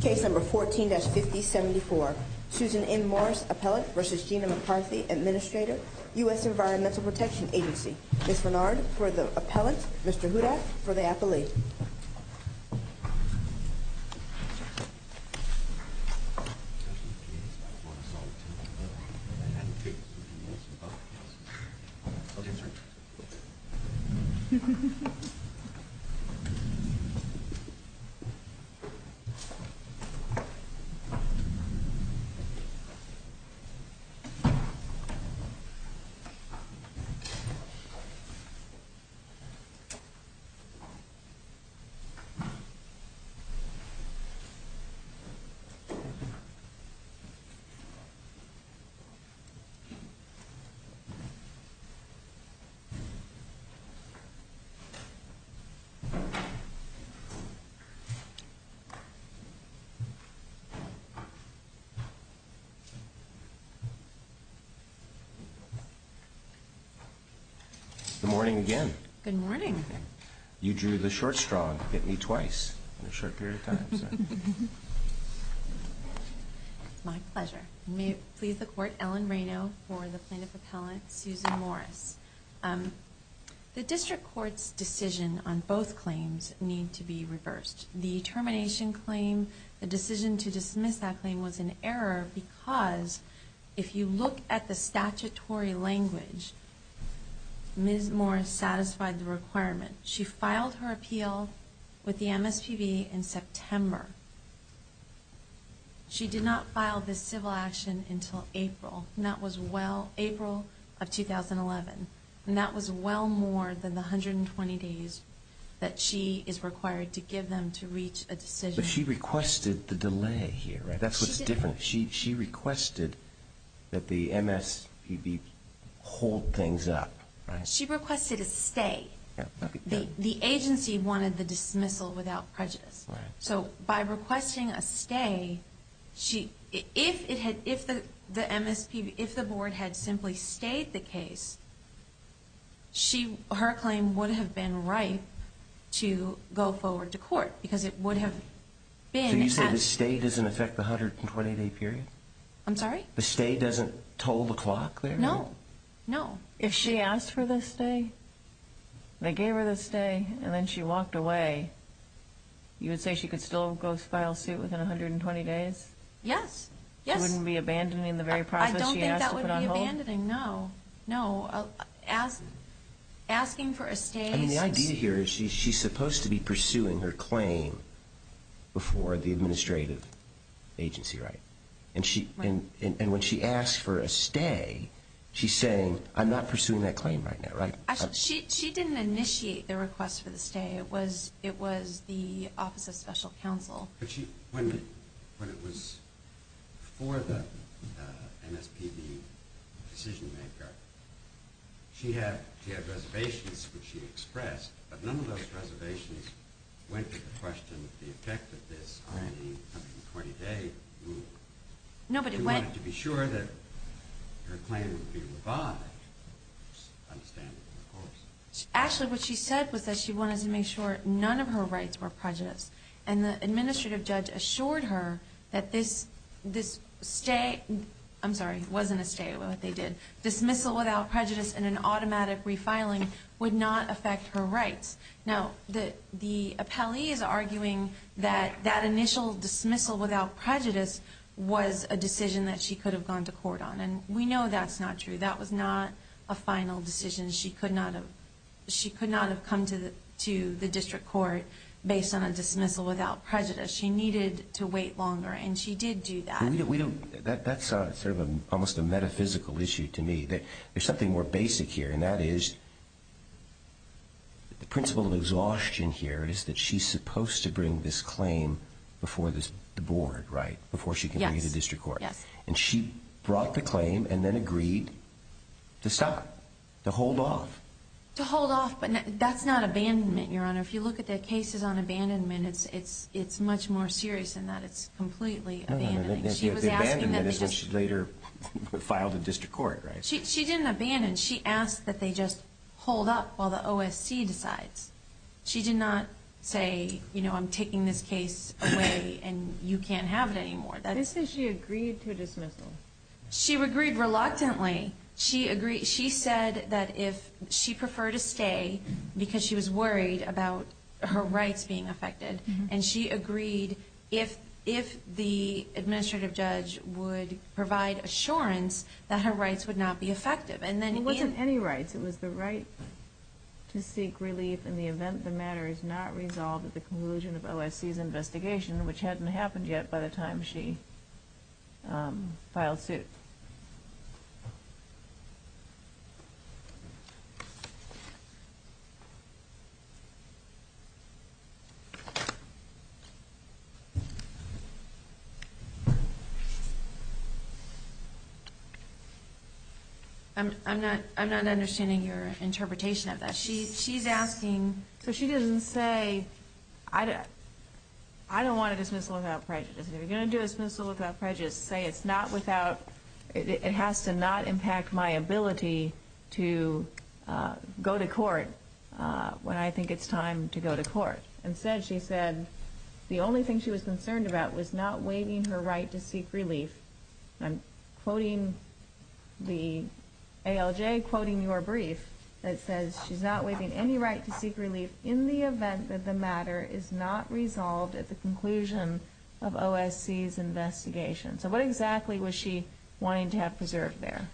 Case number 14-5074, Susan M Morris Appellate versus Gina McCarthy, Administrator, US Environmental Protection Agency. Ms. Bernard for the appellant, Mr. Hooda for the appellee. Mr. Hooda for the appellate, Mr. Hooda for the appellate, Mr. Hooda for the appellate, Ms. McCarthy for the appellate, Ms. McCarthy for the appellate. Good morning again. Good morning. You drew the short straw and hit me twice in a short period of time. My pleasure. May it please the Court, Ellen Rayno for the plaintiff appellant, Susan Morris. The district court's decision on both claims need to be reversed. The termination claim, the decision to dismiss that claim was an error because if you look at the statutory language, Ms. Morris satisfied the requirement. She filed her appeal with the MSPB in September. However, she did not file this civil action until April, and that was well, April of 2011. And that was well more than the 120 days that she is required to give them to reach a decision. But she requested the delay here, right? That's what's different. She didn't. She requested that the MSPB hold things up, right? She requested a stay. The agency wanted the dismissal without prejudice. So by requesting a stay, if the MSPB, if the board had simply stayed the case, her claim would have been right to go forward to court because it would have been... So you say the stay doesn't affect the 120-day period? I'm sorry? The stay doesn't toll the clock there? No, no. If she asked for the stay, they gave her the stay, and then she walked away, you would say she could still go file suit within 120 days? Yes, yes. She wouldn't be abandoning the very process she asked to put on hold? I don't think that would be abandoning, no. No. Asking for a stay... I mean, the idea here is she's supposed to be pursuing her claim before the administrative agency, right? And when she asks for a stay, she's saying, I'm not pursuing that claim right now, right? Actually, she didn't initiate the request for the stay. It was the Office of Special Counsel. But when it was for the MSPB decision-maker, she had reservations which she expressed, but none of those reservations went to the question of the effect of this on the 120-day rule. No, but it went... She wanted to be sure that her claim would be revived, understandably, of course. Actually, what she said was that she wanted to make sure none of her rights were prejudiced, and the administrative judge assured her that this stay... I'm sorry, it wasn't a stay, what they did. Dismissal without prejudice and an automatic refiling would not affect her rights. Now, the appellee is arguing that that initial dismissal without prejudice was a decision that she could have gone to court on, and we know that's not true. That was not a final decision. She could not have come to the district court based on a dismissal without prejudice. She needed to wait longer, and she did do that. That's sort of almost a metaphysical issue to me. There's something more basic here, and that is the principle of exhaustion here is that she's supposed to bring this claim before the board, right, before she can bring it to district court. And she brought the claim and then agreed to stop, to hold off. To hold off, but that's not abandonment, Your Honor. If you look at the cases on abandonment, it's much more serious than that. It's completely abandonment. The abandonment is when she later filed in district court, right? She didn't abandon. She asked that they just hold up while the OSC decides. She did not say, you know, I'm taking this case away and you can't have it anymore. She said she agreed to a dismissal. She agreed reluctantly. She said that if she preferred to stay because she was worried about her rights being affected, and she agreed if the administrative judge would provide assurance that her rights would not be affected. It wasn't any rights. It was the right to seek relief in the event the matter is not resolved at the conclusion of OSC's investigation, which hadn't happened yet by the time she filed suit. I'm not understanding your interpretation of that. She's asking. So she doesn't say, I don't want a dismissal without prejudice. If you're going to do a dismissal without prejudice, say it's not without. It has to not impact my ability to go to court when I think it's time to go to court. Instead, she said the only thing she was concerned about was not waiving her right to seek relief. I'm quoting the ALJ quoting your brief that says she's not waiving any right to seek relief in the event that the matter is not resolved at the conclusion of OSC's investigation. So what exactly was she wanting to have preserved there?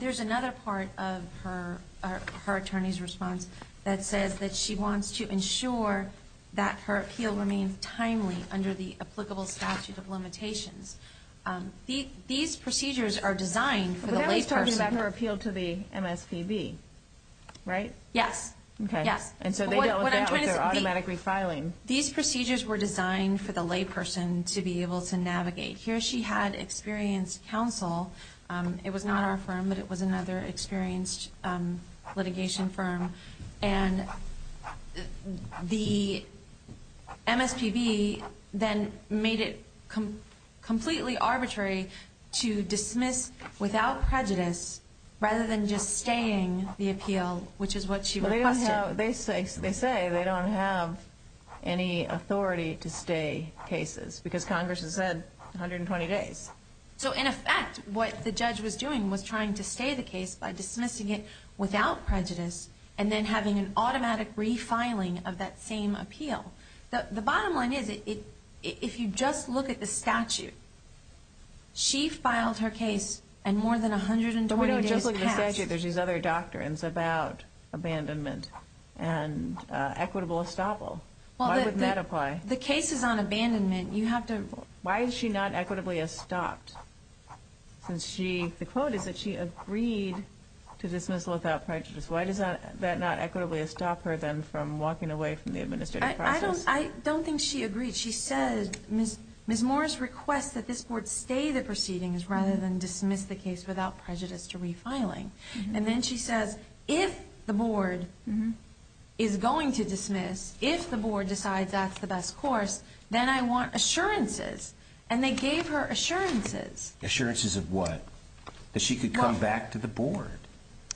There's another part of her attorney's response that says that she wants to ensure that her appeal remains timely under the applicable statute of limitations. These procedures are designed for the layperson. But that was talking about her appeal to the MSPB, right? Yes. Okay. Yes. And so they dealt with that with their automatic refiling. These procedures were designed for the layperson to be able to navigate. Here she had experienced counsel. It was not our firm, but it was another experienced litigation firm. And the MSPB then made it completely arbitrary to dismiss without prejudice rather than just staying the appeal, which is what she requested. They say they don't have any authority to stay cases because Congress has said 120 days. So in effect, what the judge was doing was trying to stay the case by dismissing it without prejudice and then having an automatic refiling of that same appeal. The bottom line is if you just look at the statute, she filed her case and more than 120 days passed. But in the statute, there's these other doctrines about abandonment and equitable estoppel. Why wouldn't that apply? The case is on abandonment. Why is she not equitably estopped? The quote is that she agreed to dismissal without prejudice. Why does that not equitably estop her then from walking away from the administrative process? I don't think she agreed. She said Ms. Morris requests that this board stay the proceedings rather than dismiss the case without prejudice to refiling. And then she says if the board is going to dismiss, if the board decides that's the best course, then I want assurances. And they gave her assurances. Assurances of what? That she could come back to the board.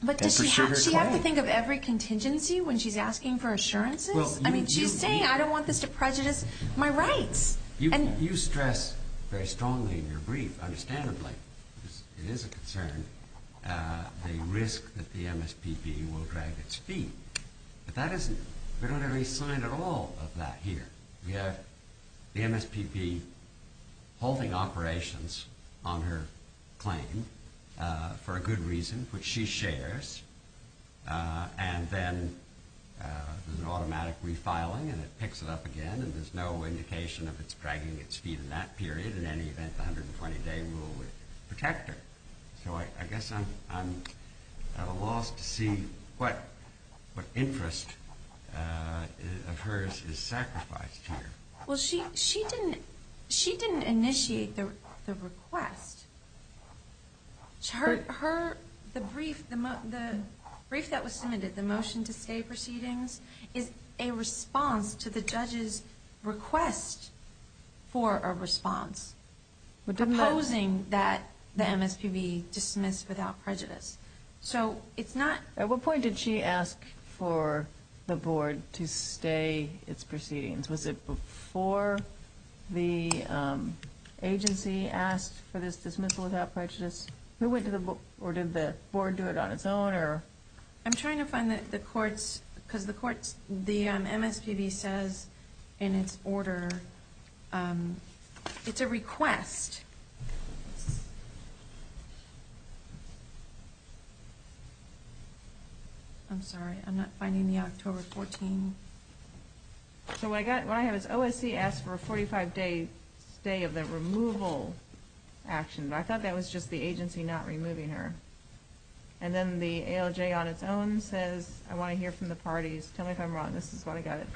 But does she have to think of every contingency when she's asking for assurances? I mean, she's saying I don't want this to prejudice my rights. You stress very strongly in your brief, understandably, it is a concern, the risk that the MSPB will drag its feet. But we don't have any sign at all of that here. We have the MSPB holding operations on her claim for a good reason, which she shares. And then there's an automatic refiling, and it picks it up again. And there's no indication of its dragging its feet in that period. In any event, the 120-day rule would protect her. So I guess I'm at a loss to see what interest of hers is sacrificed here. Well, she didn't initiate the request. The brief that was submitted, the motion to stay proceedings, is a response to the judge's request for a response. Proposing that the MSPB dismiss without prejudice. At what point did she ask for the board to stay its proceedings? Was it before the agency asked for this dismissal without prejudice? Who went to the board, or did the board do it on its own? I'm trying to find the courts. Because the MSPB says in its order, it's a request. I'm sorry, I'm not finding the October 14. So what I have is OSC asked for a 45-day stay of the removal action. But I thought that was just the agency not removing her. And then the ALJ on its own says, I want to hear from the parties. Tell me if I'm wrong. This is why I got it.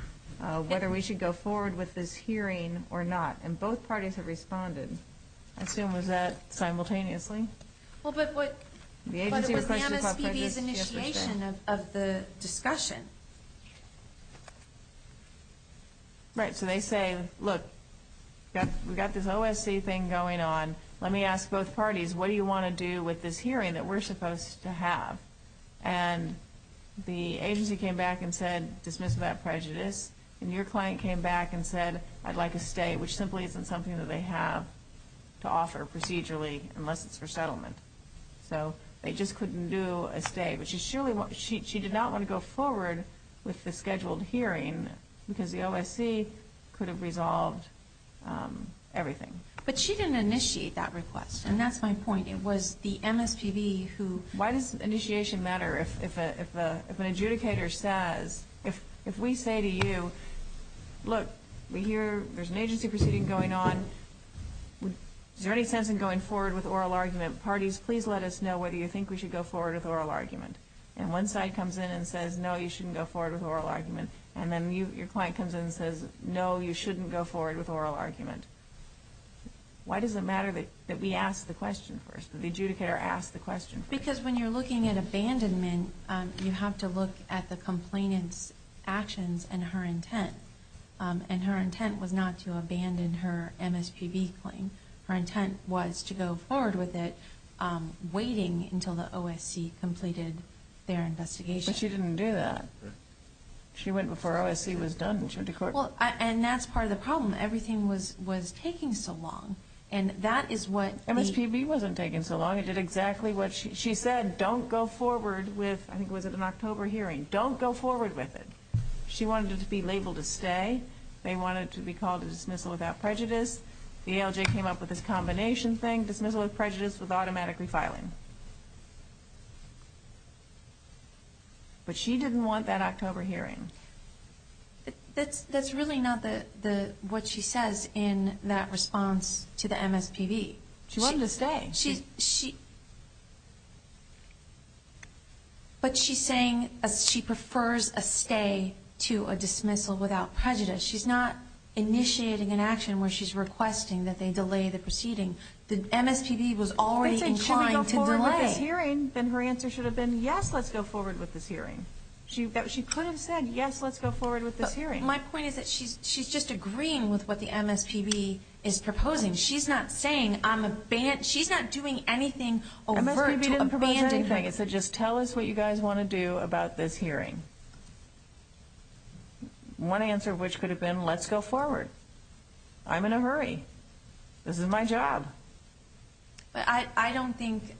Whether we should go forward with this hearing or not. And both parties have responded. I assume was that simultaneously? Well, but what was the MSPB's initiation of the discussion? Right, so they say, look, we've got this OSC thing going on. Let me ask both parties, what do you want to do with this hearing that we're supposed to have? And the agency came back and said dismiss without prejudice. And your client came back and said, I'd like a stay, which simply isn't something that they have to offer procedurally unless it's for settlement. So they just couldn't do a stay. But she did not want to go forward with the scheduled hearing, because the OSC could have resolved everything. But she didn't initiate that request, and that's my point. It was the MSPB who – Why does initiation matter if an adjudicator says – if we say to you, look, we hear there's an agency proceeding going on. Is there any sense in going forward with oral argument? Parties, please let us know whether you think we should go forward with oral argument. And one side comes in and says, no, you shouldn't go forward with oral argument. And then your client comes in and says, no, you shouldn't go forward with oral argument. Why does it matter that we ask the question first, that the adjudicator asks the question first? Because when you're looking at abandonment, you have to look at the complainant's actions and her intent. And her intent was not to abandon her MSPB claim. Her intent was to go forward with it, waiting until the OSC completed their investigation. But she didn't do that. She went before OSC was done, and she went to court. Well, and that's part of the problem. Everything was taking so long, and that is what – MSPB wasn't taking so long. It did exactly what she said. Don't go forward with – I think it was at an October hearing. Don't go forward with it. She wanted it to be labeled a stay. They wanted it to be called a dismissal without prejudice. The ALJ came up with this combination thing, dismissal with prejudice with automatic refiling. But she didn't want that October hearing. That's really not what she says in that response to the MSPB. She wanted a stay. She – but she's saying she prefers a stay to a dismissal without prejudice. She's not initiating an action where she's requesting that they delay the proceeding. The MSPB was already inclined to delay. They said, should we go forward with this hearing? Then her answer should have been, yes, let's go forward with this hearing. She could have said, yes, let's go forward with this hearing. But my point is that she's just agreeing with what the MSPB is proposing. She's not saying I'm – she's not doing anything overt to abandon her. MSPB didn't propose anything. It said, just tell us what you guys want to do about this hearing. One answer which could have been, let's go forward. I'm in a hurry. This is my job. But I don't think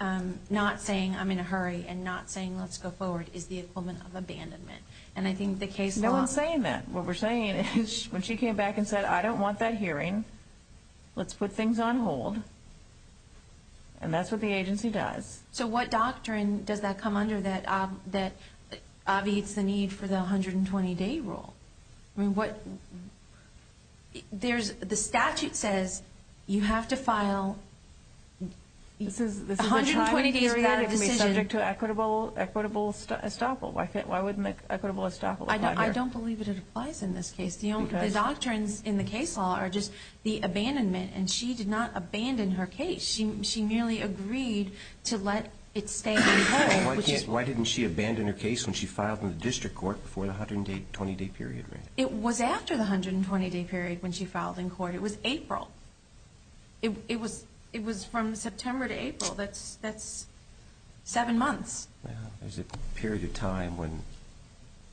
not saying I'm in a hurry and not saying let's go forward is the equivalent of abandonment. And I think the case – No one's saying that. What we're saying is when she came back and said, I don't want that hearing. Let's put things on hold. And that's what the agency does. So what doctrine does that come under that obviates the need for the 120-day rule? I mean, what – there's – the statute says you have to file a 120-day re-edit decision. This is a tribe that can be subject to equitable estoppel. Why wouldn't equitable estoppel apply here? I don't believe it applies in this case. The doctrines in the case law are just the abandonment. And she did not abandon her case. She merely agreed to let it stay on hold. Why didn't she abandon her case when she filed in the district court before the 120-day period ran? It was after the 120-day period when she filed in court. It was April. It was from September to April. That's seven months. It was a period of time when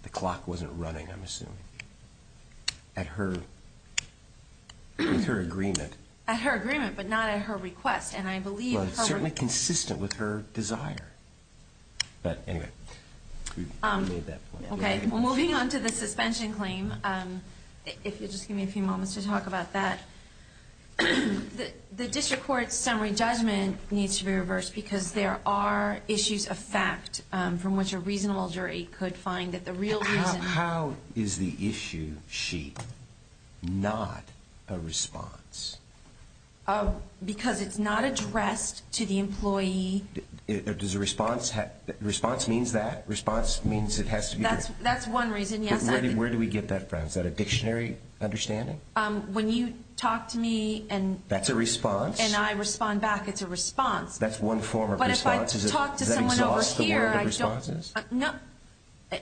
the clock wasn't running, I'm assuming, at her agreement. At her agreement, but not at her request. And I believe her – Well, it's certainly consistent with her desire. But anyway, you made that point. Okay. Moving on to the suspension claim, if you'll just give me a few moments to talk about that, the district court's summary judgment needs to be reversed because there are issues of fact from which a reasonable jury could find that the real reason – How is the issue sheet not a response? Because it's not addressed to the employee. Does a response – response means that? Response means it has to be – That's one reason, yes. Where do we get that from? Is that a dictionary understanding? When you talk to me and – That's a response. And I respond back. It's a response. That's one form of response. But if I talk to someone over here, I don't – Is that exhaustive of the responses? No.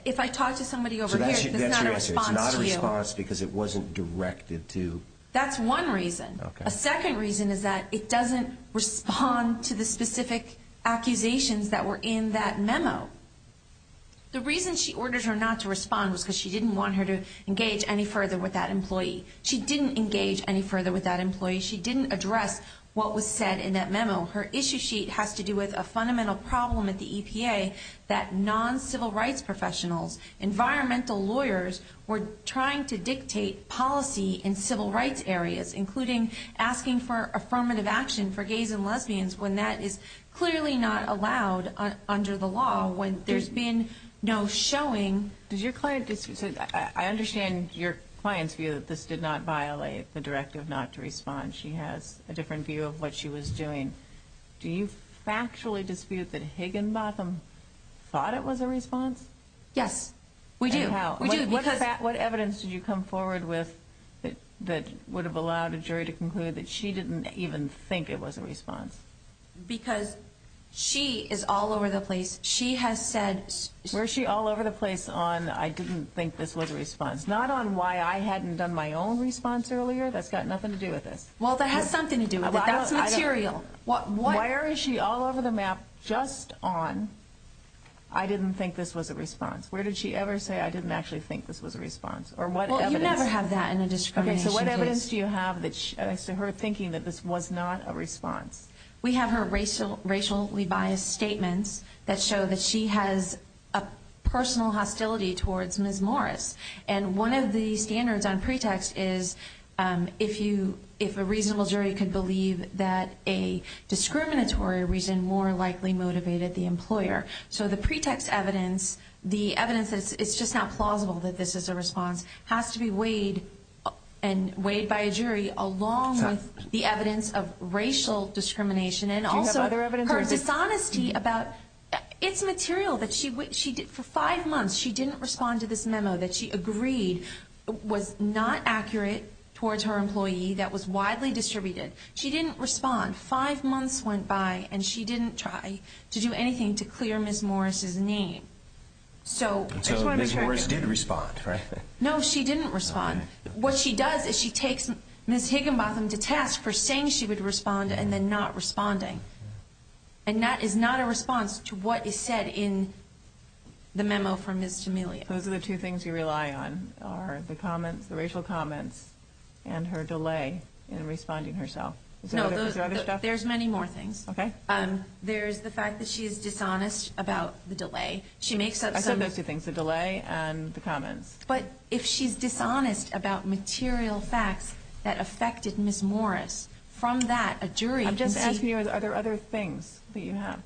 If I talk to somebody over here, it's not a response to you. So that's your answer. It's not a response because it wasn't directed to – That's one reason. Okay. A second reason is that it doesn't respond to the specific accusations that were in that memo. The reason she ordered her not to respond was because she didn't want her to engage any further with that employee. She didn't engage any further with that employee. She didn't address what was said in that memo. Her issue sheet has to do with a fundamental problem at the EPA that non-civil rights professionals, environmental lawyers, were trying to dictate policy in civil rights areas, including asking for affirmative action for gays and lesbians, when that is clearly not allowed under the law, when there's been no showing. Does your client – I understand your client's view that this did not violate the directive not to respond. She has a different view of what she was doing. Do you factually dispute that Higginbotham thought it was a response? Yes, we do. What evidence did you come forward with that would have allowed a jury to conclude that she didn't even think it was a response? Because she is all over the place. She has said – She's all over the place on, I didn't think this was a response. Not on why I hadn't done my own response earlier. That's got nothing to do with this. Well, that has something to do with it. That's material. Why is she all over the map just on, I didn't think this was a response? Where did she ever say, I didn't actually think this was a response? Or what evidence – Well, you never have that in a discrimination case. Okay, so what evidence do you have as to her thinking that this was not a response? We have her racially biased statements that show that she has a personal hostility towards Ms. Morris. And one of the standards on pretext is if a reasonable jury could believe that a discriminatory reason more likely motivated the employer. So the pretext evidence, the evidence that it's just not plausible that this is a response, has to be weighed and weighed by a jury along with the evidence of racial discrimination. Do you have other evidence? And also her dishonesty about – it's material. For five months she didn't respond to this memo that she agreed was not accurate towards her employee that was widely distributed. She didn't respond. Five months went by and she didn't try to do anything to clear Ms. Morris' name. So Ms. Morris did respond, right? No, she didn't respond. All right. What she does is she takes Ms. Higginbotham to task for saying she would respond and then not responding. And that is not a response to what is said in the memo from Ms. Tamelia. Those are the two things you rely on are the comments, the racial comments, and her delay in responding herself. Is there other stuff? No, there's many more things. Okay. There's the fact that she is dishonest about the delay. She makes up some – I said those two things, the delay and the comments. But if she's dishonest about material facts that affected Ms. Morris, from that a jury can see – I'm just asking you are there other things that you have.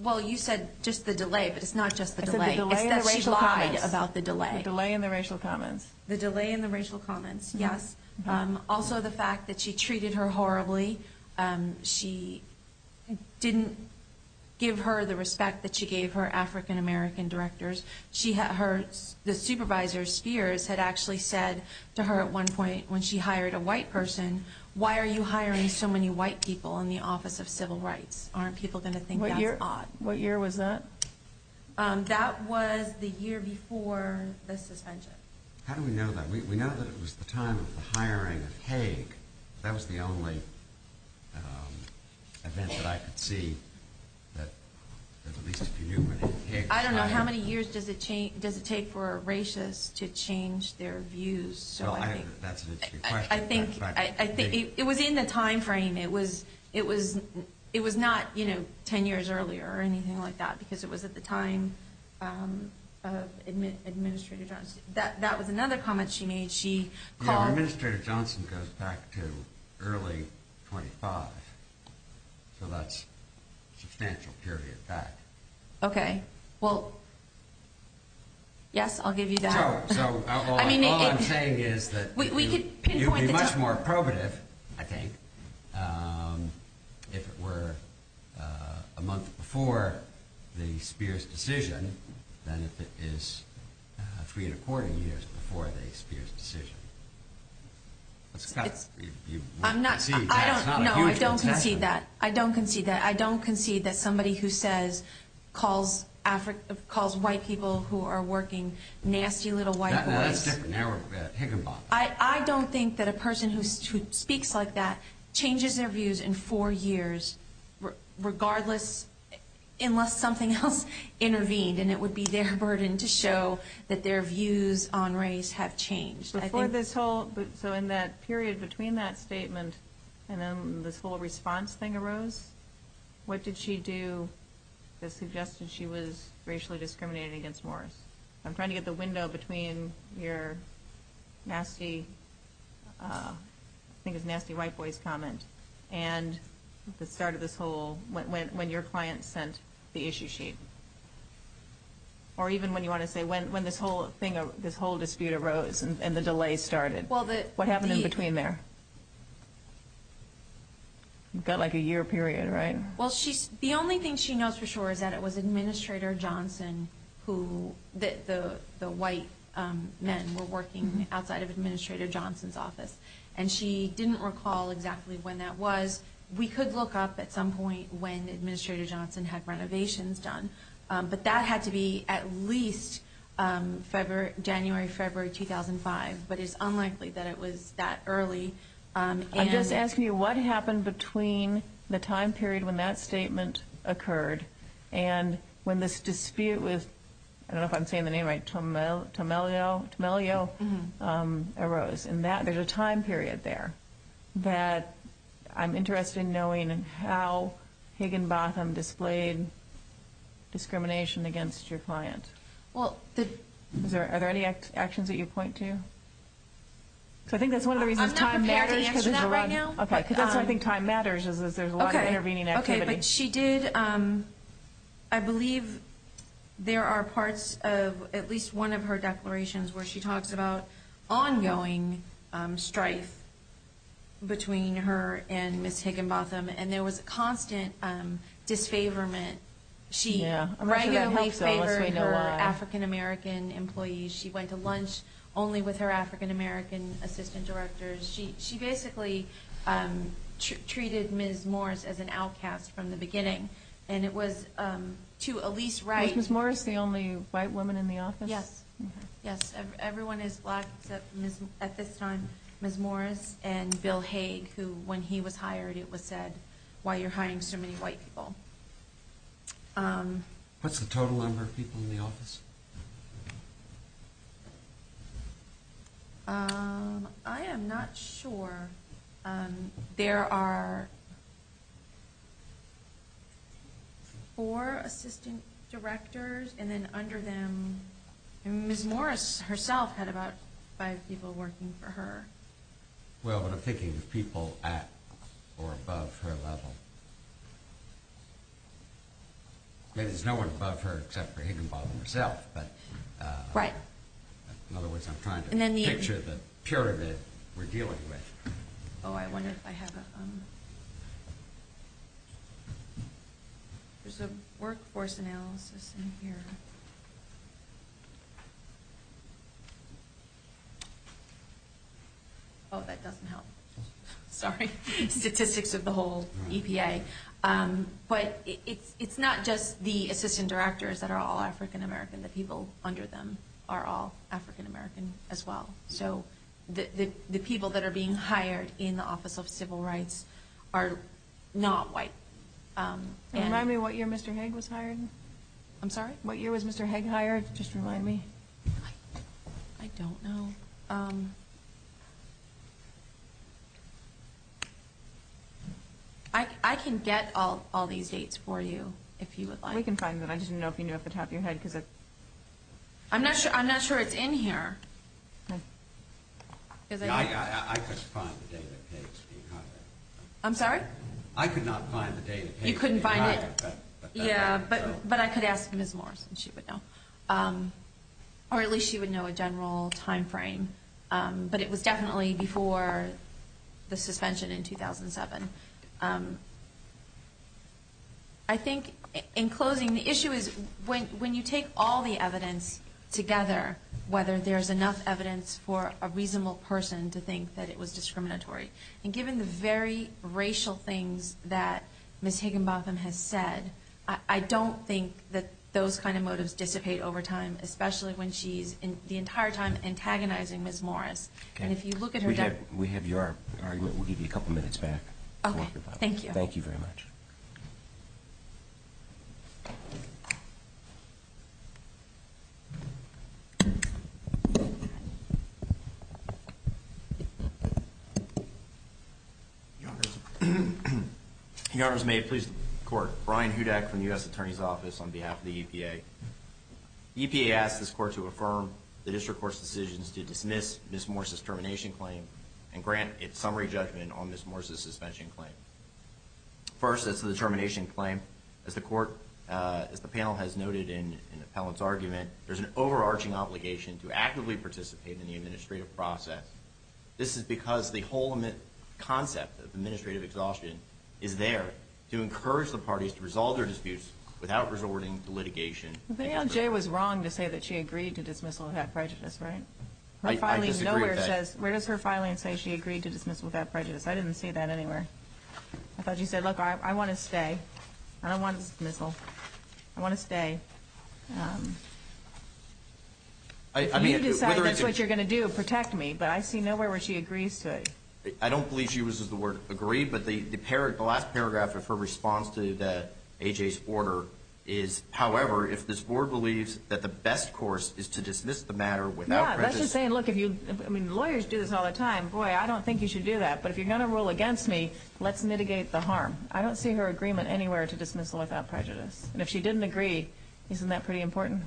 Well, you said just the delay, but it's not just the delay. I said the delay and the racial comments. It's that she lied about the delay. The delay and the racial comments. The delay and the racial comments, yes. Also the fact that she treated her horribly. She didn't give her the respect that she gave her African-American directors. The supervisor, Spears, had actually said to her at one point when she hired a white person, why are you hiring so many white people in the Office of Civil Rights? Aren't people going to think that's odd? What year was that? That was the year before the suspension. How do we know that? We know that it was the time of the hiring of Haig. That was the only event that I could see that at least if you knew when Haig – I don't know. How many years does it take for a racist to change their views? That's an interesting question. It was in the timeframe. It was not 10 years earlier or anything like that because it was at the time of Administrator Johnson. That was another comment she made. Administrator Johnson goes back to early 25, so that's a substantial period back. Okay. Well, yes, I'll give you that. So all I'm saying is that you'd be much more probative, I think, if it were a month before the Spears decision than if it is three and a quarter years before the Spears decision. You wouldn't concede that. No, I don't concede that. I don't concede that. I don't think that somebody who calls white people who are working nasty little white boys – That's different. Now we're talking about Higginbotham. I don't think that a person who speaks like that changes their views in four years, regardless – unless something else intervened, and it would be their burden to show that their views on race have changed. Before this whole – so in that period between that statement and then this whole response thing arose, what did she do that suggested she was racially discriminated against more? I'm trying to get the window between your nasty – I think it's nasty white boys comment and the start of this whole – when your client sent the issue sheet. Or even when you want to say when this whole thing, this whole dispute arose and the delay started. Well, the – What happened in between there? You've got like a year period, right? Well, the only thing she knows for sure is that it was Administrator Johnson who – the white men were working outside of Administrator Johnson's office, and she didn't recall exactly when that was. We could look up at some point when Administrator Johnson had renovations done, but that had to be at least February – January, February 2005. But it's unlikely that it was that early. I'm just asking you what happened between the time period when that statement occurred and when this dispute with – I don't know if I'm saying the name right – Tomelio arose. There's a time period there that I'm interested in knowing how Higginbotham displayed discrimination against your client. Well, the – Are there any actions that you point to? Because I think that's one of the reasons time matters. I'm not prepared to answer that right now. Okay, because that's why I think time matters is there's a lot of intervening activity. Okay, but she did – I believe there are parts of at least one of her declarations where she talks about ongoing strife between her and Ms. Higginbotham, and there was constant disfavorment. Yeah, I'm not sure that helps, though, unless we know why. She regularly favored her African-American employees. She went to lunch only with her African-American assistant directors. She basically treated Ms. Morris as an outcast from the beginning. And it was to a least right – Was Ms. Morris the only white woman in the office? Yes, yes. Everyone is black except, at this time, Ms. Morris and Bill Hague, who when he was hired it was said, why are you hiring so many white people? What's the total number of people in the office? I am not sure. There are four assistant directors, and then under them – Ms. Morris herself had about five people working for her. Well, but I'm thinking of people at or above her level. Maybe there's no one above her except for Higginbotham herself. Right. In other words, I'm trying to picture the pyramid we're dealing with. Oh, I wonder if I have a – There's a workforce analysis in here. Oh, that doesn't help. Sorry. Statistics of the whole EPA. But it's not just the assistant directors that are all African-American. The people under them are all African-American as well. So the people that are being hired in the Office of Civil Rights are not white. Remind me what year Mr. Hague was hired. I'm sorry? What year was Mr. Hague hired? Just remind me. I don't know. I can get all these dates for you if you would like. We can find them. I just didn't know if you knew off the top of your head because it – I'm not sure it's in here. I couldn't find the date of H.P. Higginbotham. I could not find the date of H.P. Higginbotham. You couldn't find it? Yeah, but I could ask Ms. Morris and she would know. Or at least she would know a general timeframe. But it was definitely before the suspension in 2007. I think in closing, the issue is when you take all the evidence together, whether there's enough evidence for a reasonable person to think that it was discriminatory. And given the very racial things that Ms. Higginbotham has said, I don't think that those kind of motives dissipate over time, especially when she's the entire time antagonizing Ms. Morris. And if you look at her – We have your argument. We'll give you a couple minutes back. Okay, thank you. Thank you very much. Your Honors, may it please the Court. Brian Hudak from the U.S. Attorney's Office on behalf of the EPA. The EPA asked this Court to affirm the District Court's decisions to dismiss Ms. Morris's termination claim and grant its summary judgment on Ms. Morris's suspension claim. First, as to the termination claim, as the panel has noted in the appellant's argument, there's an overarching obligation to actively participate in the administrative process. This is because the whole concept of administrative exhaustion is there to encourage the parties to resolve their disputes without resorting to litigation. But ALJ was wrong to say that she agreed to dismissal without prejudice, right? I disagree with that. Her filing nowhere says – where does her filing say she agreed to dismissal without prejudice? I didn't see that anywhere. I thought you said, look, I want to stay. I don't want to dismissal. I want to stay. If you decide that's what you're going to do, protect me. But I see nowhere where she agrees to it. I don't believe she uses the word agree, but the last paragraph of her response to AJ's order is, however, if this Board believes that the best course is to dismiss the matter without prejudice – No, that's just saying, look, lawyers do this all the time. Boy, I don't think you should do that. But if you're going to rule against me, let's mitigate the harm. I don't see her agreement anywhere to dismissal without prejudice. And if she didn't agree, isn't that pretty important?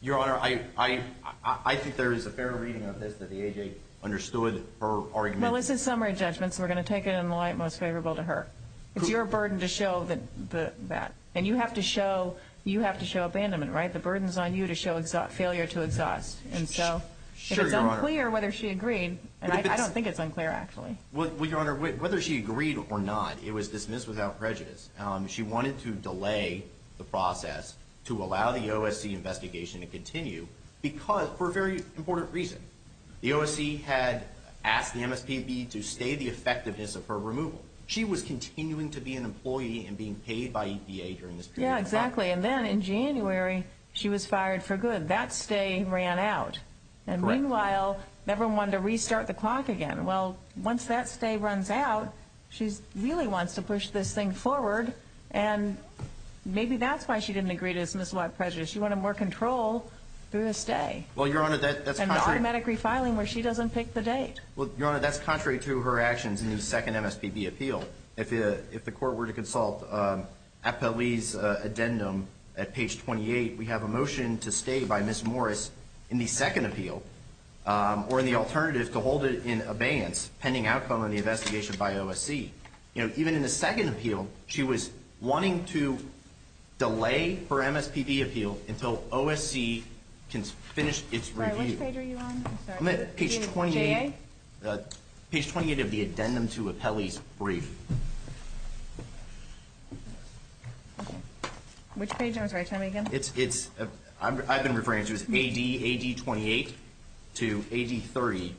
Your Honor, I think there is a fair reading of this that the AJ understood her argument. Well, this is summary judgment, so we're going to take it in the light most favorable to her. It's your burden to show that. And you have to show abandonment, right? The burden is on you to show failure to exhaust. And so if it's unclear whether she agreed – and I don't think it's unclear, actually. Well, Your Honor, whether she agreed or not, it was dismissed without prejudice. She wanted to delay the process to allow the OSC investigation to continue for a very important reason. The OSC had asked the MSPB to stay the effectiveness of her removal. She was continuing to be an employee and being paid by EPA during this period of time. Yeah, exactly. And then in January, she was fired for good. That stay ran out. And meanwhile, never wanted to restart the clock again. Well, once that stay runs out, she really wants to push this thing forward. And maybe that's why she didn't agree to dismiss without prejudice. She wanted more control through the stay. Well, Your Honor, that's contrary – And automatic refiling where she doesn't pick the date. Well, Your Honor, that's contrary to her actions in the second MSPB appeal. If the court were to consult Appellee's addendum at page 28, we have a motion to stay by Ms. Morris in the second appeal. Or in the alternative, to hold it in abeyance pending outcome of the investigation by OSC. Even in the second appeal, she was wanting to delay her MSPB appeal until OSC can finish its review. Which page are you on? I'm at page 28 of the addendum to Appellee's brief. Which page? I'm sorry, tell me again. I've been referring to it as AD 28 to AD 30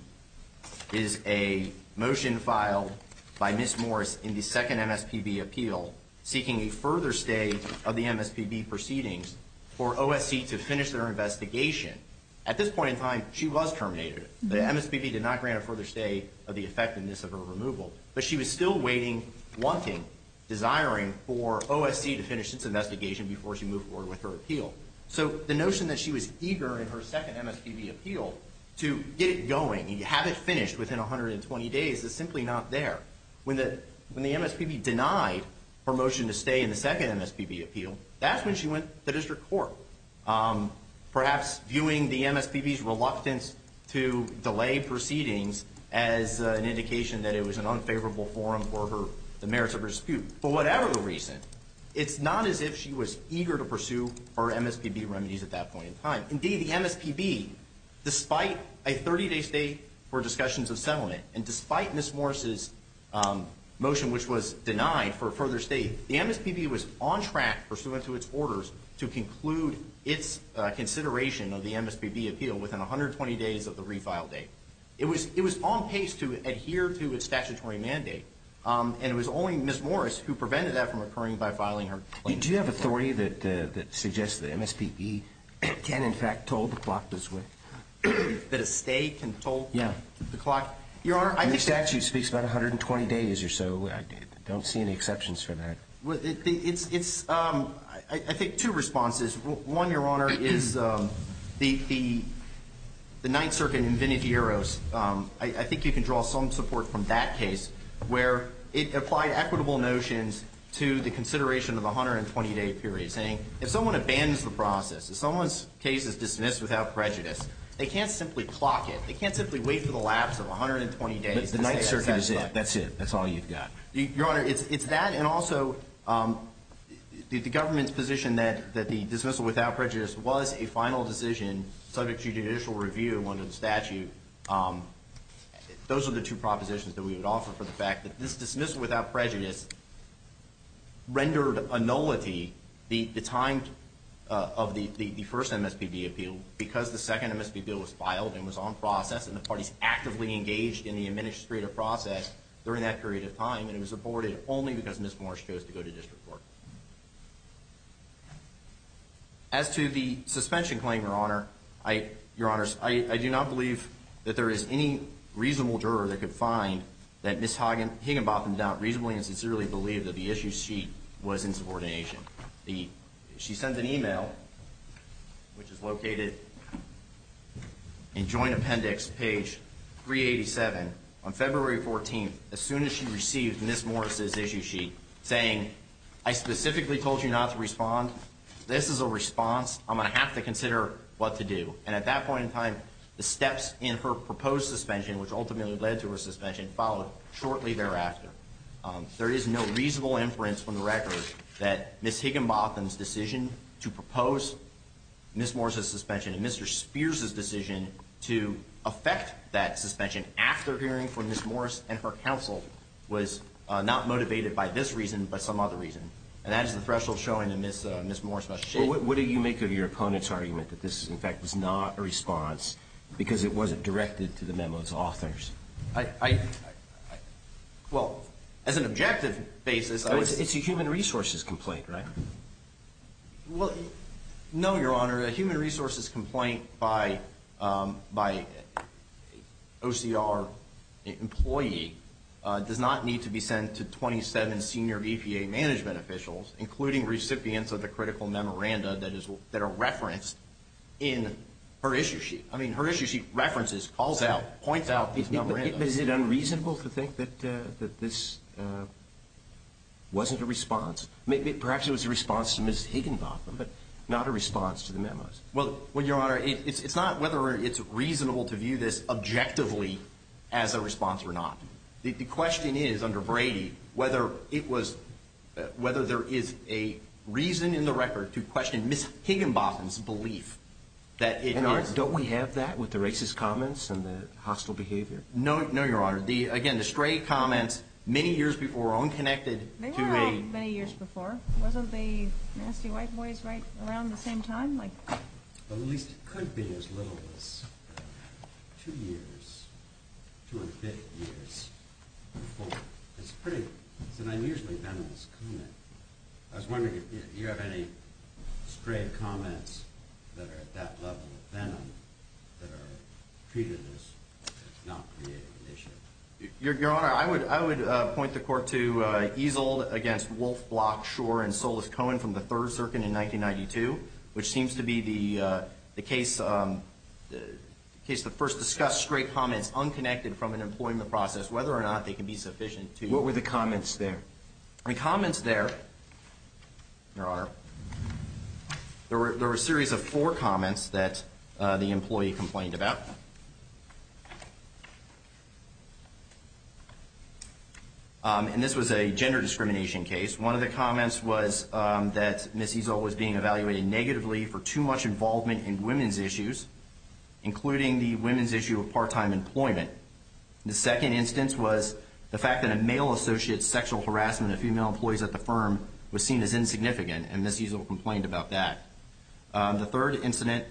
is a motion filed by Ms. Morris in the second MSPB appeal, seeking a further stay of the MSPB proceedings for OSC to finish their investigation. At this point in time, she was terminated. The MSPB did not grant a further stay of the effectiveness of her removal. But she was still waiting, wanting, desiring for OSC to finish its investigation before she moved forward with her appeal. So the notion that she was eager in her second MSPB appeal to get it going and have it finished within 120 days is simply not there. When the MSPB denied her motion to stay in the second MSPB appeal, that's when she went to district court. Perhaps viewing the MSPB's reluctance to delay proceedings as an indication that it was an unfavorable forum for the merits of her dispute. But whatever the reason, it's not as if she was eager to pursue her MSPB remedies at that point in time. Indeed, the MSPB, despite a 30-day stay for discussions of settlement, and despite Ms. Morris's motion which was denied for a further stay, the MSPB was on track, pursuant to its orders, to conclude its consideration of the MSPB appeal within 120 days of the refile date. It was on pace to adhere to its statutory mandate, and it was only Ms. Morris who prevented that from occurring by filing her claim. Do you have authority that suggests the MSPB can, in fact, toll the clock this way? That a stay can toll the clock? Yeah. Your Honor, I think- The statute speaks about 120 days or so. I don't see any exceptions for that. It's, I think, two responses. One, Your Honor, is the Ninth Circuit in Vinicius Eros. I think you can draw some support from that case where it applied equitable notions to the consideration of the 120-day period, saying if someone abandons the process, if someone's case is dismissed without prejudice, they can't simply clock it. They can't simply wait for the lapse of 120 days. The Ninth Circuit is it. That's it. That's all you've got. Your Honor, it's that and also the government's position that the dismissal without prejudice was a final decision subject to judicial review under the statute. Those are the two propositions that we would offer for the fact that this dismissal without prejudice rendered a nullity the time of the first MSPB appeal because the second MSPB bill was filed and was on process and the parties actively engaged in the administrative process during that period of time and it was aborted only because Ms. Morris chose to go to district court. As to the suspension claim, Your Honor, I do not believe that there is any reasonable juror that could find that Ms. Higginbotham doubt reasonably and sincerely believed that the issue sheet was in subordination. She sent an email, which is located in Joint Appendix, page 387, on February 14th, as soon as she received Ms. Morris' issue sheet, saying, I specifically told you not to respond. This is a response. I'm going to have to consider what to do. And at that point in time, the steps in her proposed suspension, which ultimately led to her suspension, followed shortly thereafter. There is no reasonable inference from the record that Ms. Higginbotham's decision to propose Ms. Morris' suspension and Mr. Spears' decision to affect that suspension after hearing from Ms. Morris and her counsel was not motivated by this reason but some other reason. And that is the threshold showing that Ms. Morris must shift. But what do you make of your opponent's argument that this, in fact, was not a response because it wasn't directed to the memo's authors? Well, as an objective basis, it's a human resources complaint, right? Well, no, Your Honor. A human resources complaint by OCR employee does not need to be sent to 27 senior EPA management officials, including recipients of the critical memoranda that are referenced in her issue sheet. I mean, her issue sheet references, calls out, points out these memorandums. But is it unreasonable to think that this wasn't a response? Perhaps it was a response to Ms. Higginbotham, but not a response to the memos. Well, Your Honor, it's not whether it's reasonable to view this objectively as a response or not. The question is, under Brady, whether there is a reason in the record to question Ms. Higginbotham's belief that it is. Your Honor, don't we have that with the racist comments and the hostile behavior? No, Your Honor. Again, the stray comments many years before were unconnected to a... They were out many years before. Wasn't the Nasty White Boys right around the same time? Well, at least it could be as little as two years, two and a fifth years before. It's pretty, it's an unusually venomous comment. I was wondering if you have any stray comments that are at that level of venom that are treated as not creating an issue. Your Honor, I would point the Court to Easel against Wolfe, Block, Schor, and Solis-Cohen from the Third Circuit in 1992, which seems to be the case that first discussed stray comments unconnected from an employment process, whether or not they can be sufficient to... What were the comments there? The comments there, Your Honor, there were a series of four comments that the employee complained about. And this was a gender discrimination case. One of the comments was that Ms. Easel was being evaluated negatively for too much involvement in women's issues, including the women's issue of part-time employment. The second instance was the fact that a male associate's sexual harassment of female employees at the firm was seen as insignificant, and Ms. Easel complained about that. The third incident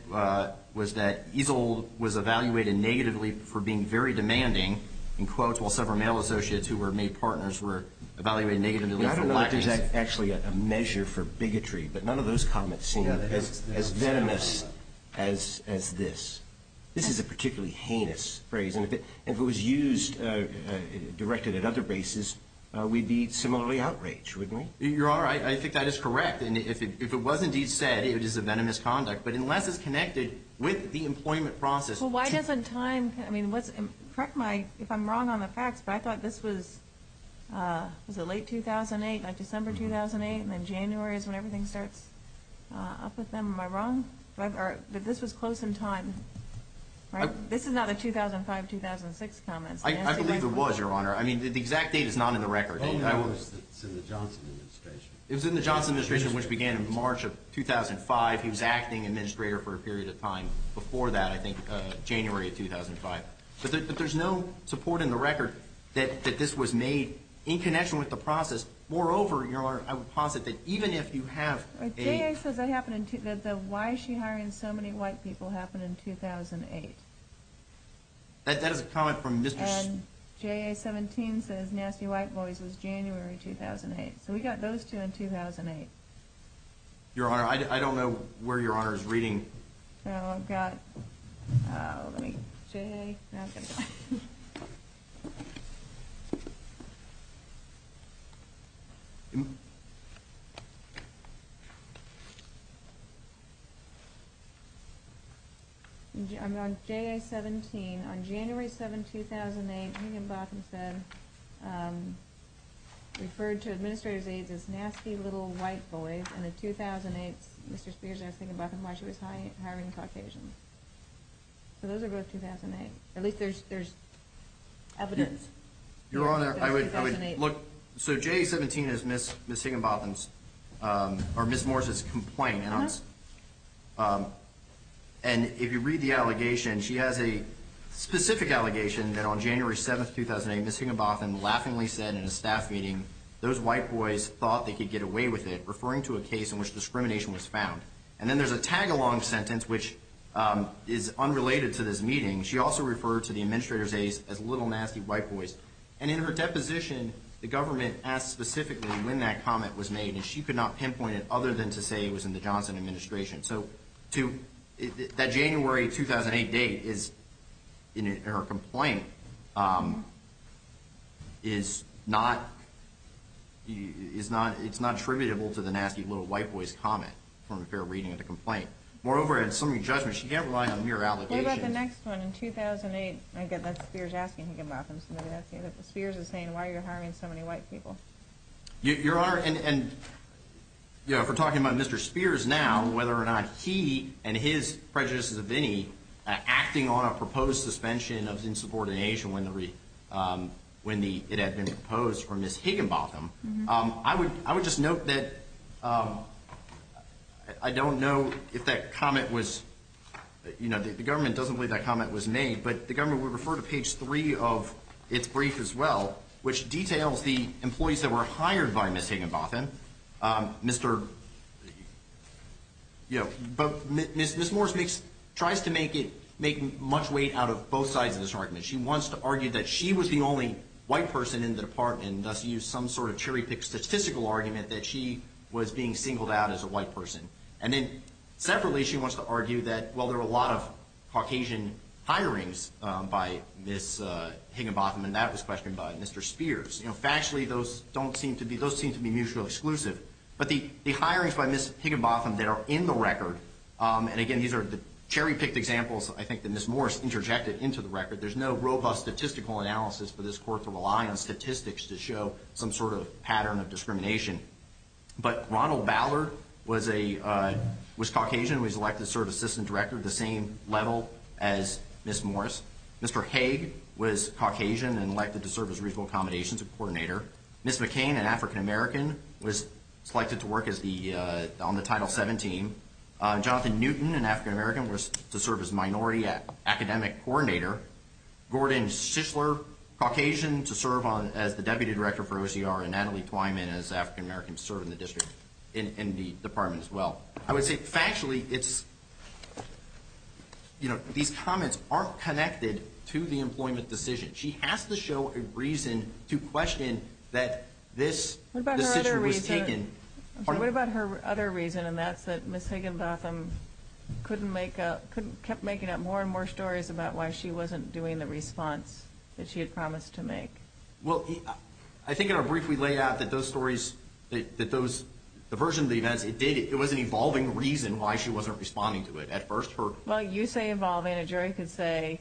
was that Easel was evaluated negatively for being very demanding, in quotes, while several male associates who were made partners were evaluated negatively for lack of... I don't know if there's actually a measure for bigotry, but none of those comments seem as venomous as this. This is a particularly heinous phrase. And if it was used, directed at other bases, we'd be similarly outraged, wouldn't we? Your Honor, I think that is correct. And if it was indeed said, it is a venomous conduct. But unless it's connected with the employment process... Well, why doesn't time... I mean, correct me if I'm wrong on the facts, but I thought this was, was it late 2008, like December 2008, and then January is when everything starts up with them. Am I wrong? But this was close in time, right? This is not a 2005-2006 comment. I believe it was, Your Honor. I mean, the exact date is not in the record. It's in the Johnson administration. It was in the Johnson administration, which began in March of 2005. He was acting administrator for a period of time before that, I think January of 2005. But there's no support in the record that this was made in connection with the process. Moreover, Your Honor, I would posit that even if you have a... J.A. says that why is she hiring so many white people happened in 2008. That is a comment from Mr... And J.A. 17 says nasty white boys was January 2008. So we got those two in 2008. Your Honor, I don't know where Your Honor is reading. Oh, I've got... Oh, let me... J.A. Okay. On J.A. 17, on January 7, 2008, Higginbotham said, referred to administrator's aides as nasty little white boys, and in 2008, Mr. Spears asked Higginbotham why she was hiring Caucasians. So those are both 2008. At least there's evidence. Your Honor, I would look... So J.A. 17 is Ms. Higginbotham's or Ms. Morris's complaint, and if you read the allegation, she has a specific allegation that on January 7, 2008, Ms. Higginbotham laughingly said in a staff meeting, those white boys thought they could get away with it, referring to a case in which discrimination was found. And then there's a tag-along sentence, which is unrelated to this meeting. She also referred to the administrator's aides as little nasty white boys. And in her deposition, the government asked specifically when that comment was made, and she could not pinpoint it other than to say it was in the Johnson administration. So that January 2008 date is in her complaint, is not attributable to the nasty little white boys comment from her reading of the complaint. Moreover, in summary judgment, she can't rely on mere allegations. What about the next one in 2008? Again, that's Spears asking Higginbotham. Spears is saying, why are you hiring so many white people? Your Honor, and if we're talking about Mr. Spears now, whether or not he and his prejudices of any, acting on a proposed suspension of insubordination when it had been proposed for Ms. Higginbotham, I would just note that I don't know if that comment was, you know, the government doesn't believe that comment was made, but the government would refer to page three of its brief as well, which details the employees that were hired by Ms. Higginbotham. But Ms. Morris tries to make much weight out of both sides of this argument. She wants to argue that she was the only white person in the department, and thus used some sort of cherry-picked statistical argument that she was being singled out as a white person. And then separately, she wants to argue that, well, there were a lot of Caucasian hirings by Ms. Higginbotham, and that was questioned by Mr. Spears. You know, factually, those don't seem to be, those seem to be mutually exclusive. But the hirings by Ms. Higginbotham that are in the record, and again, these are the cherry-picked examples, I think, that Ms. Morris interjected into the record. There's no robust statistical analysis for this court to rely on statistics to show some sort of pattern of discrimination. But Ronald Ballard was a, was Caucasian. He was elected to serve as assistant director at the same level as Ms. Morris. Mr. Hague was Caucasian and elected to serve as regional accommodations coordinator. Ms. McCain, an African-American, was selected to work as the, on the Title VII team. Jonathan Newton, an African-American, was to serve as minority academic coordinator. Gordon Shishler, Caucasian, to serve on, as the deputy director for OCR. And Natalie Twyman, as African-American, served in the district, in the department as well. I would say factually, it's, you know, these comments aren't connected to the employment decision. She has to show a reason to question that this decision was taken. What about her other reason, and that's that Ms. Higginbotham couldn't make a, kept making up more and more stories about why she wasn't doing the response that she had promised to make. Well, I think in our brief, we lay out that those stories, that those, the version of the events, it did, it was an evolving reason why she wasn't responding to it. At first, her- Well, you say evolving. A jury could say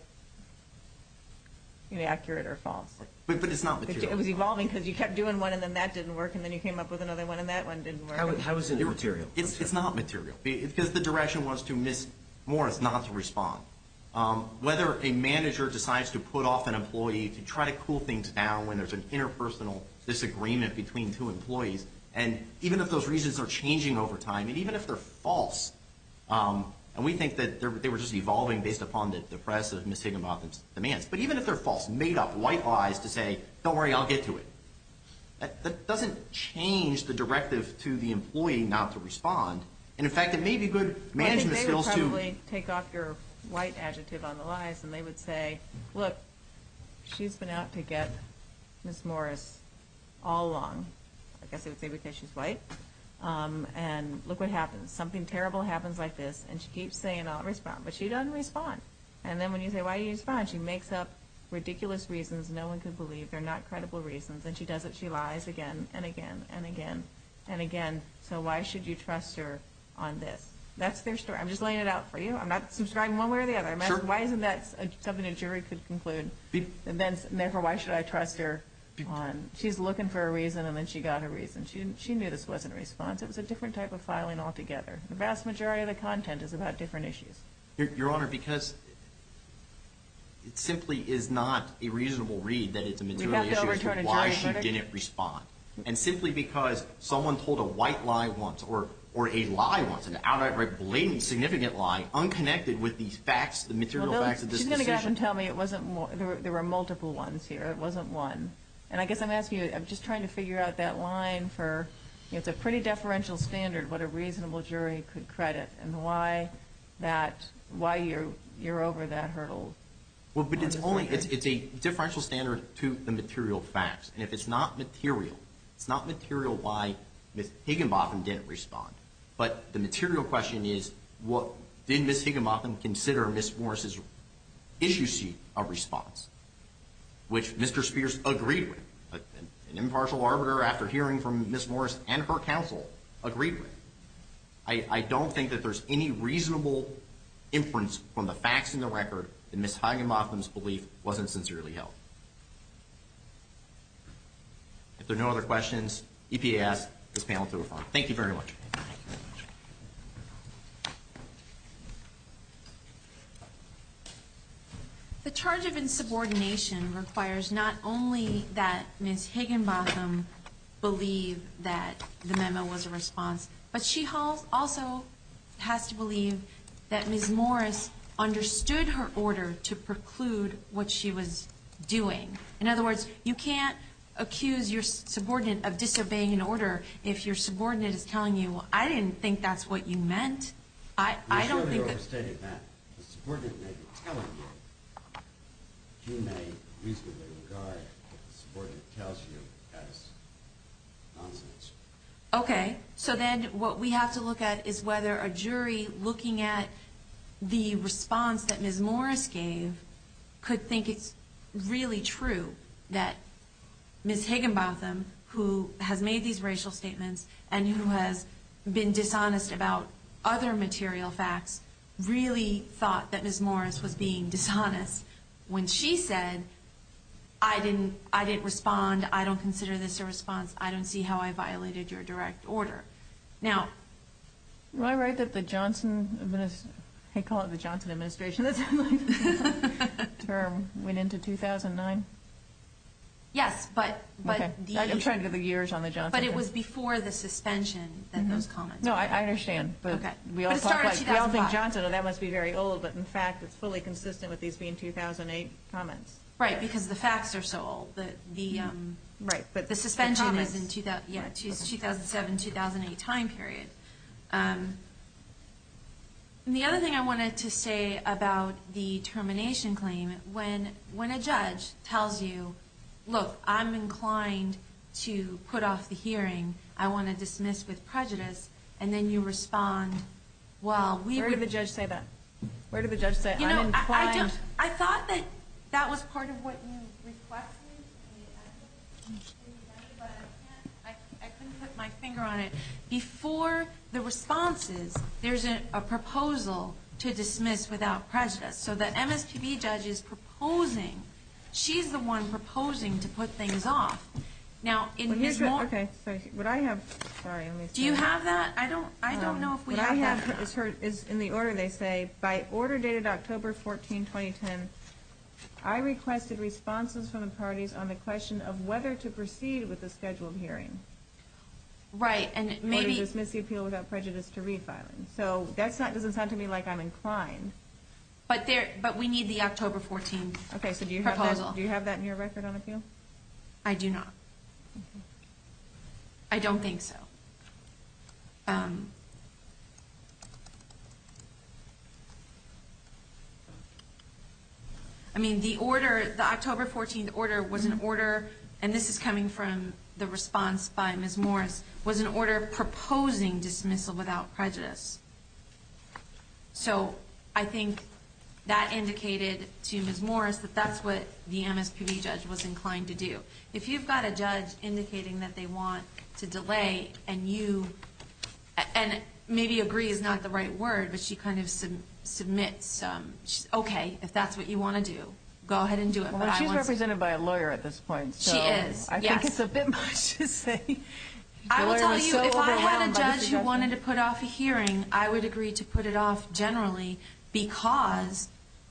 inaccurate or false. But it's not material. It was evolving because you kept doing one, and then that didn't work, and then you came up with another one, and that one didn't work. How is it material? It's not material, because the direction was to Ms. Morris not to respond. Whether a manager decides to put off an employee to try to cool things down when there's an interpersonal disagreement between two employees, and even if those reasons are changing over time, and even if they're false, and we think that they were just evolving based upon the press of Ms. Higginbotham's demands, but even if they're false, made up, white lies to say, don't worry, I'll get to it, that doesn't change the directive to the employee not to respond. And, in fact, it may be good management skills to- and they would say, look, she's been out to get Ms. Morris all along, I guess they would say because she's white, and look what happens. Something terrible happens like this, and she keeps saying, I'll respond, but she doesn't respond. And then when you say, why don't you respond? She makes up ridiculous reasons no one could believe. They're not credible reasons, and she does it. She lies again and again and again and again. So why should you trust her on this? That's their story. I'm just laying it out for you. I'm not subscribing one way or the other. Why isn't that something a jury could conclude? And, therefore, why should I trust her? She's looking for a reason, and then she got a reason. She knew this wasn't a response. It was a different type of filing altogether. The vast majority of the content is about different issues. Your Honor, because it simply is not a reasonable read that it's a material issue as to why she didn't respond. And simply because someone told a white lie once or a lie once, an outright blatant, significant lie, unconnected with these facts, the material facts of this decision. She's going to have them tell me there were multiple ones here. It wasn't one. And I guess I'm asking you, I'm just trying to figure out that line for, it's a pretty deferential standard, what a reasonable jury could credit and why you're over that hurdle. Well, but it's a differential standard to the material facts. And if it's not material, it's not material why Ms. Higginbotham didn't respond. But the material question is, did Ms. Higginbotham consider Ms. Morris' issue sheet a response? Which Mr. Spears agreed with. An impartial arbiter, after hearing from Ms. Morris and her counsel, agreed with. I don't think that there's any reasonable inference from the facts in the record that Ms. Higginbotham's belief wasn't sincerely held. If there are no other questions, EPA asks this panel to refer. Thank you very much. The charge of insubordination requires not only that Ms. Higginbotham believe that the memo was a response, but she also has to believe that Ms. Morris understood her order to preclude what she was doing. In other words, you can't accuse your subordinate of disobeying an order if your subordinate is telling you, well, I didn't think that's what you meant. I don't think that... You clearly overstated that. The subordinate may be telling you. You may reasonably regard what the subordinate tells you as nonsense. Okay. So then what we have to look at is whether a jury looking at the response that Ms. Morris gave could think it's really true that Ms. Higginbotham, who has made these racial statements and who has been dishonest about other material facts, really thought that Ms. Morris was being dishonest when she said, I didn't respond, I don't consider this a response, I don't see how I violated your direct order. Am I right that the Johnson administration term went into 2009? Yes, but... I'm trying to get the years on the Johnson term. But it was before the suspension that those comments were made. No, I understand, but we all think Johnson, and that must be very old, but in fact it's fully consistent with these being 2008 comments. Right, because the facts are so old. The suspension is in 2007-2008 time period. And the other thing I wanted to say about the termination claim, when a judge tells you, look, I'm inclined to put off the hearing, I want to dismiss with prejudice, and then you respond, well... Where did the judge say that? Where did the judge say, I'm inclined... I thought that was part of what you requested, but I couldn't put my finger on it. Before the responses, there's a proposal to dismiss without prejudice. So the MSPB judge is proposing, she's the one proposing to put things off. Now, in Ms. Morris... Would I have... Do you have that? I don't know if we have that. What I have is in the order they say, by order dated October 14, 2010, I requested responses from the parties on the question of whether to proceed with the scheduled hearing. Right, and maybe... Or dismiss the appeal without prejudice to refiling. So that doesn't sound to me like I'm inclined. But we need the October 14 proposal. Okay, so do you have that in your record on appeal? I do not. I don't think so. I mean, the order, the October 14 order was an order, and this is coming from the response by Ms. Morris, was an order proposing dismissal without prejudice. So I think that indicated to Ms. Morris that that's what the MSPB judge was inclined to do. If you've got a judge indicating that they want to delay, and you... And maybe agree is not the right word, but she kind of submits... Okay, if that's what you want to do, go ahead and do it. Well, she's represented by a lawyer at this point, so... She is, yes. I think it's a bit much to say... I will tell you, if I had a judge who wanted to put off a hearing, I would agree to put it off generally, because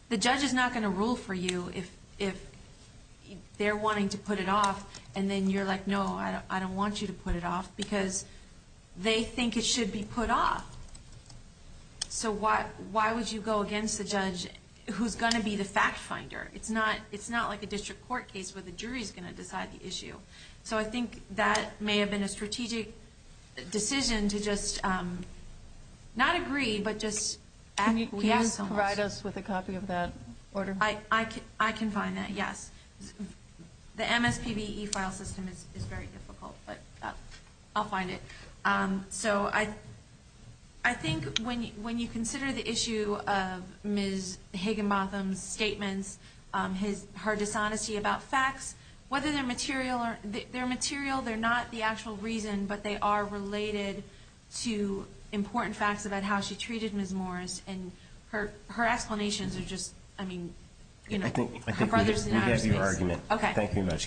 the judge is not going to rule for you if they're wanting to put it off, and then you're like, no, I don't want you to put it off, because they think it should be put off. So why would you go against the judge who's going to be the fact-finder? It's not like a district court case where the jury's going to decide the issue. So I think that may have been a strategic decision to just not agree, but just... Can you provide us with a copy of that order? I can find that, yes. The MSPB e-file system is very difficult, but I'll find it. So I think when you consider the issue of Ms. Higginbotham's statements, her dishonesty about facts, whether they're material or... They're material, they're not the actual reason, but they are related to important facts about how she treated Ms. Morris, and her explanations are just, I mean... I think we have your argument. Thank you very much. Thank you. Thank you.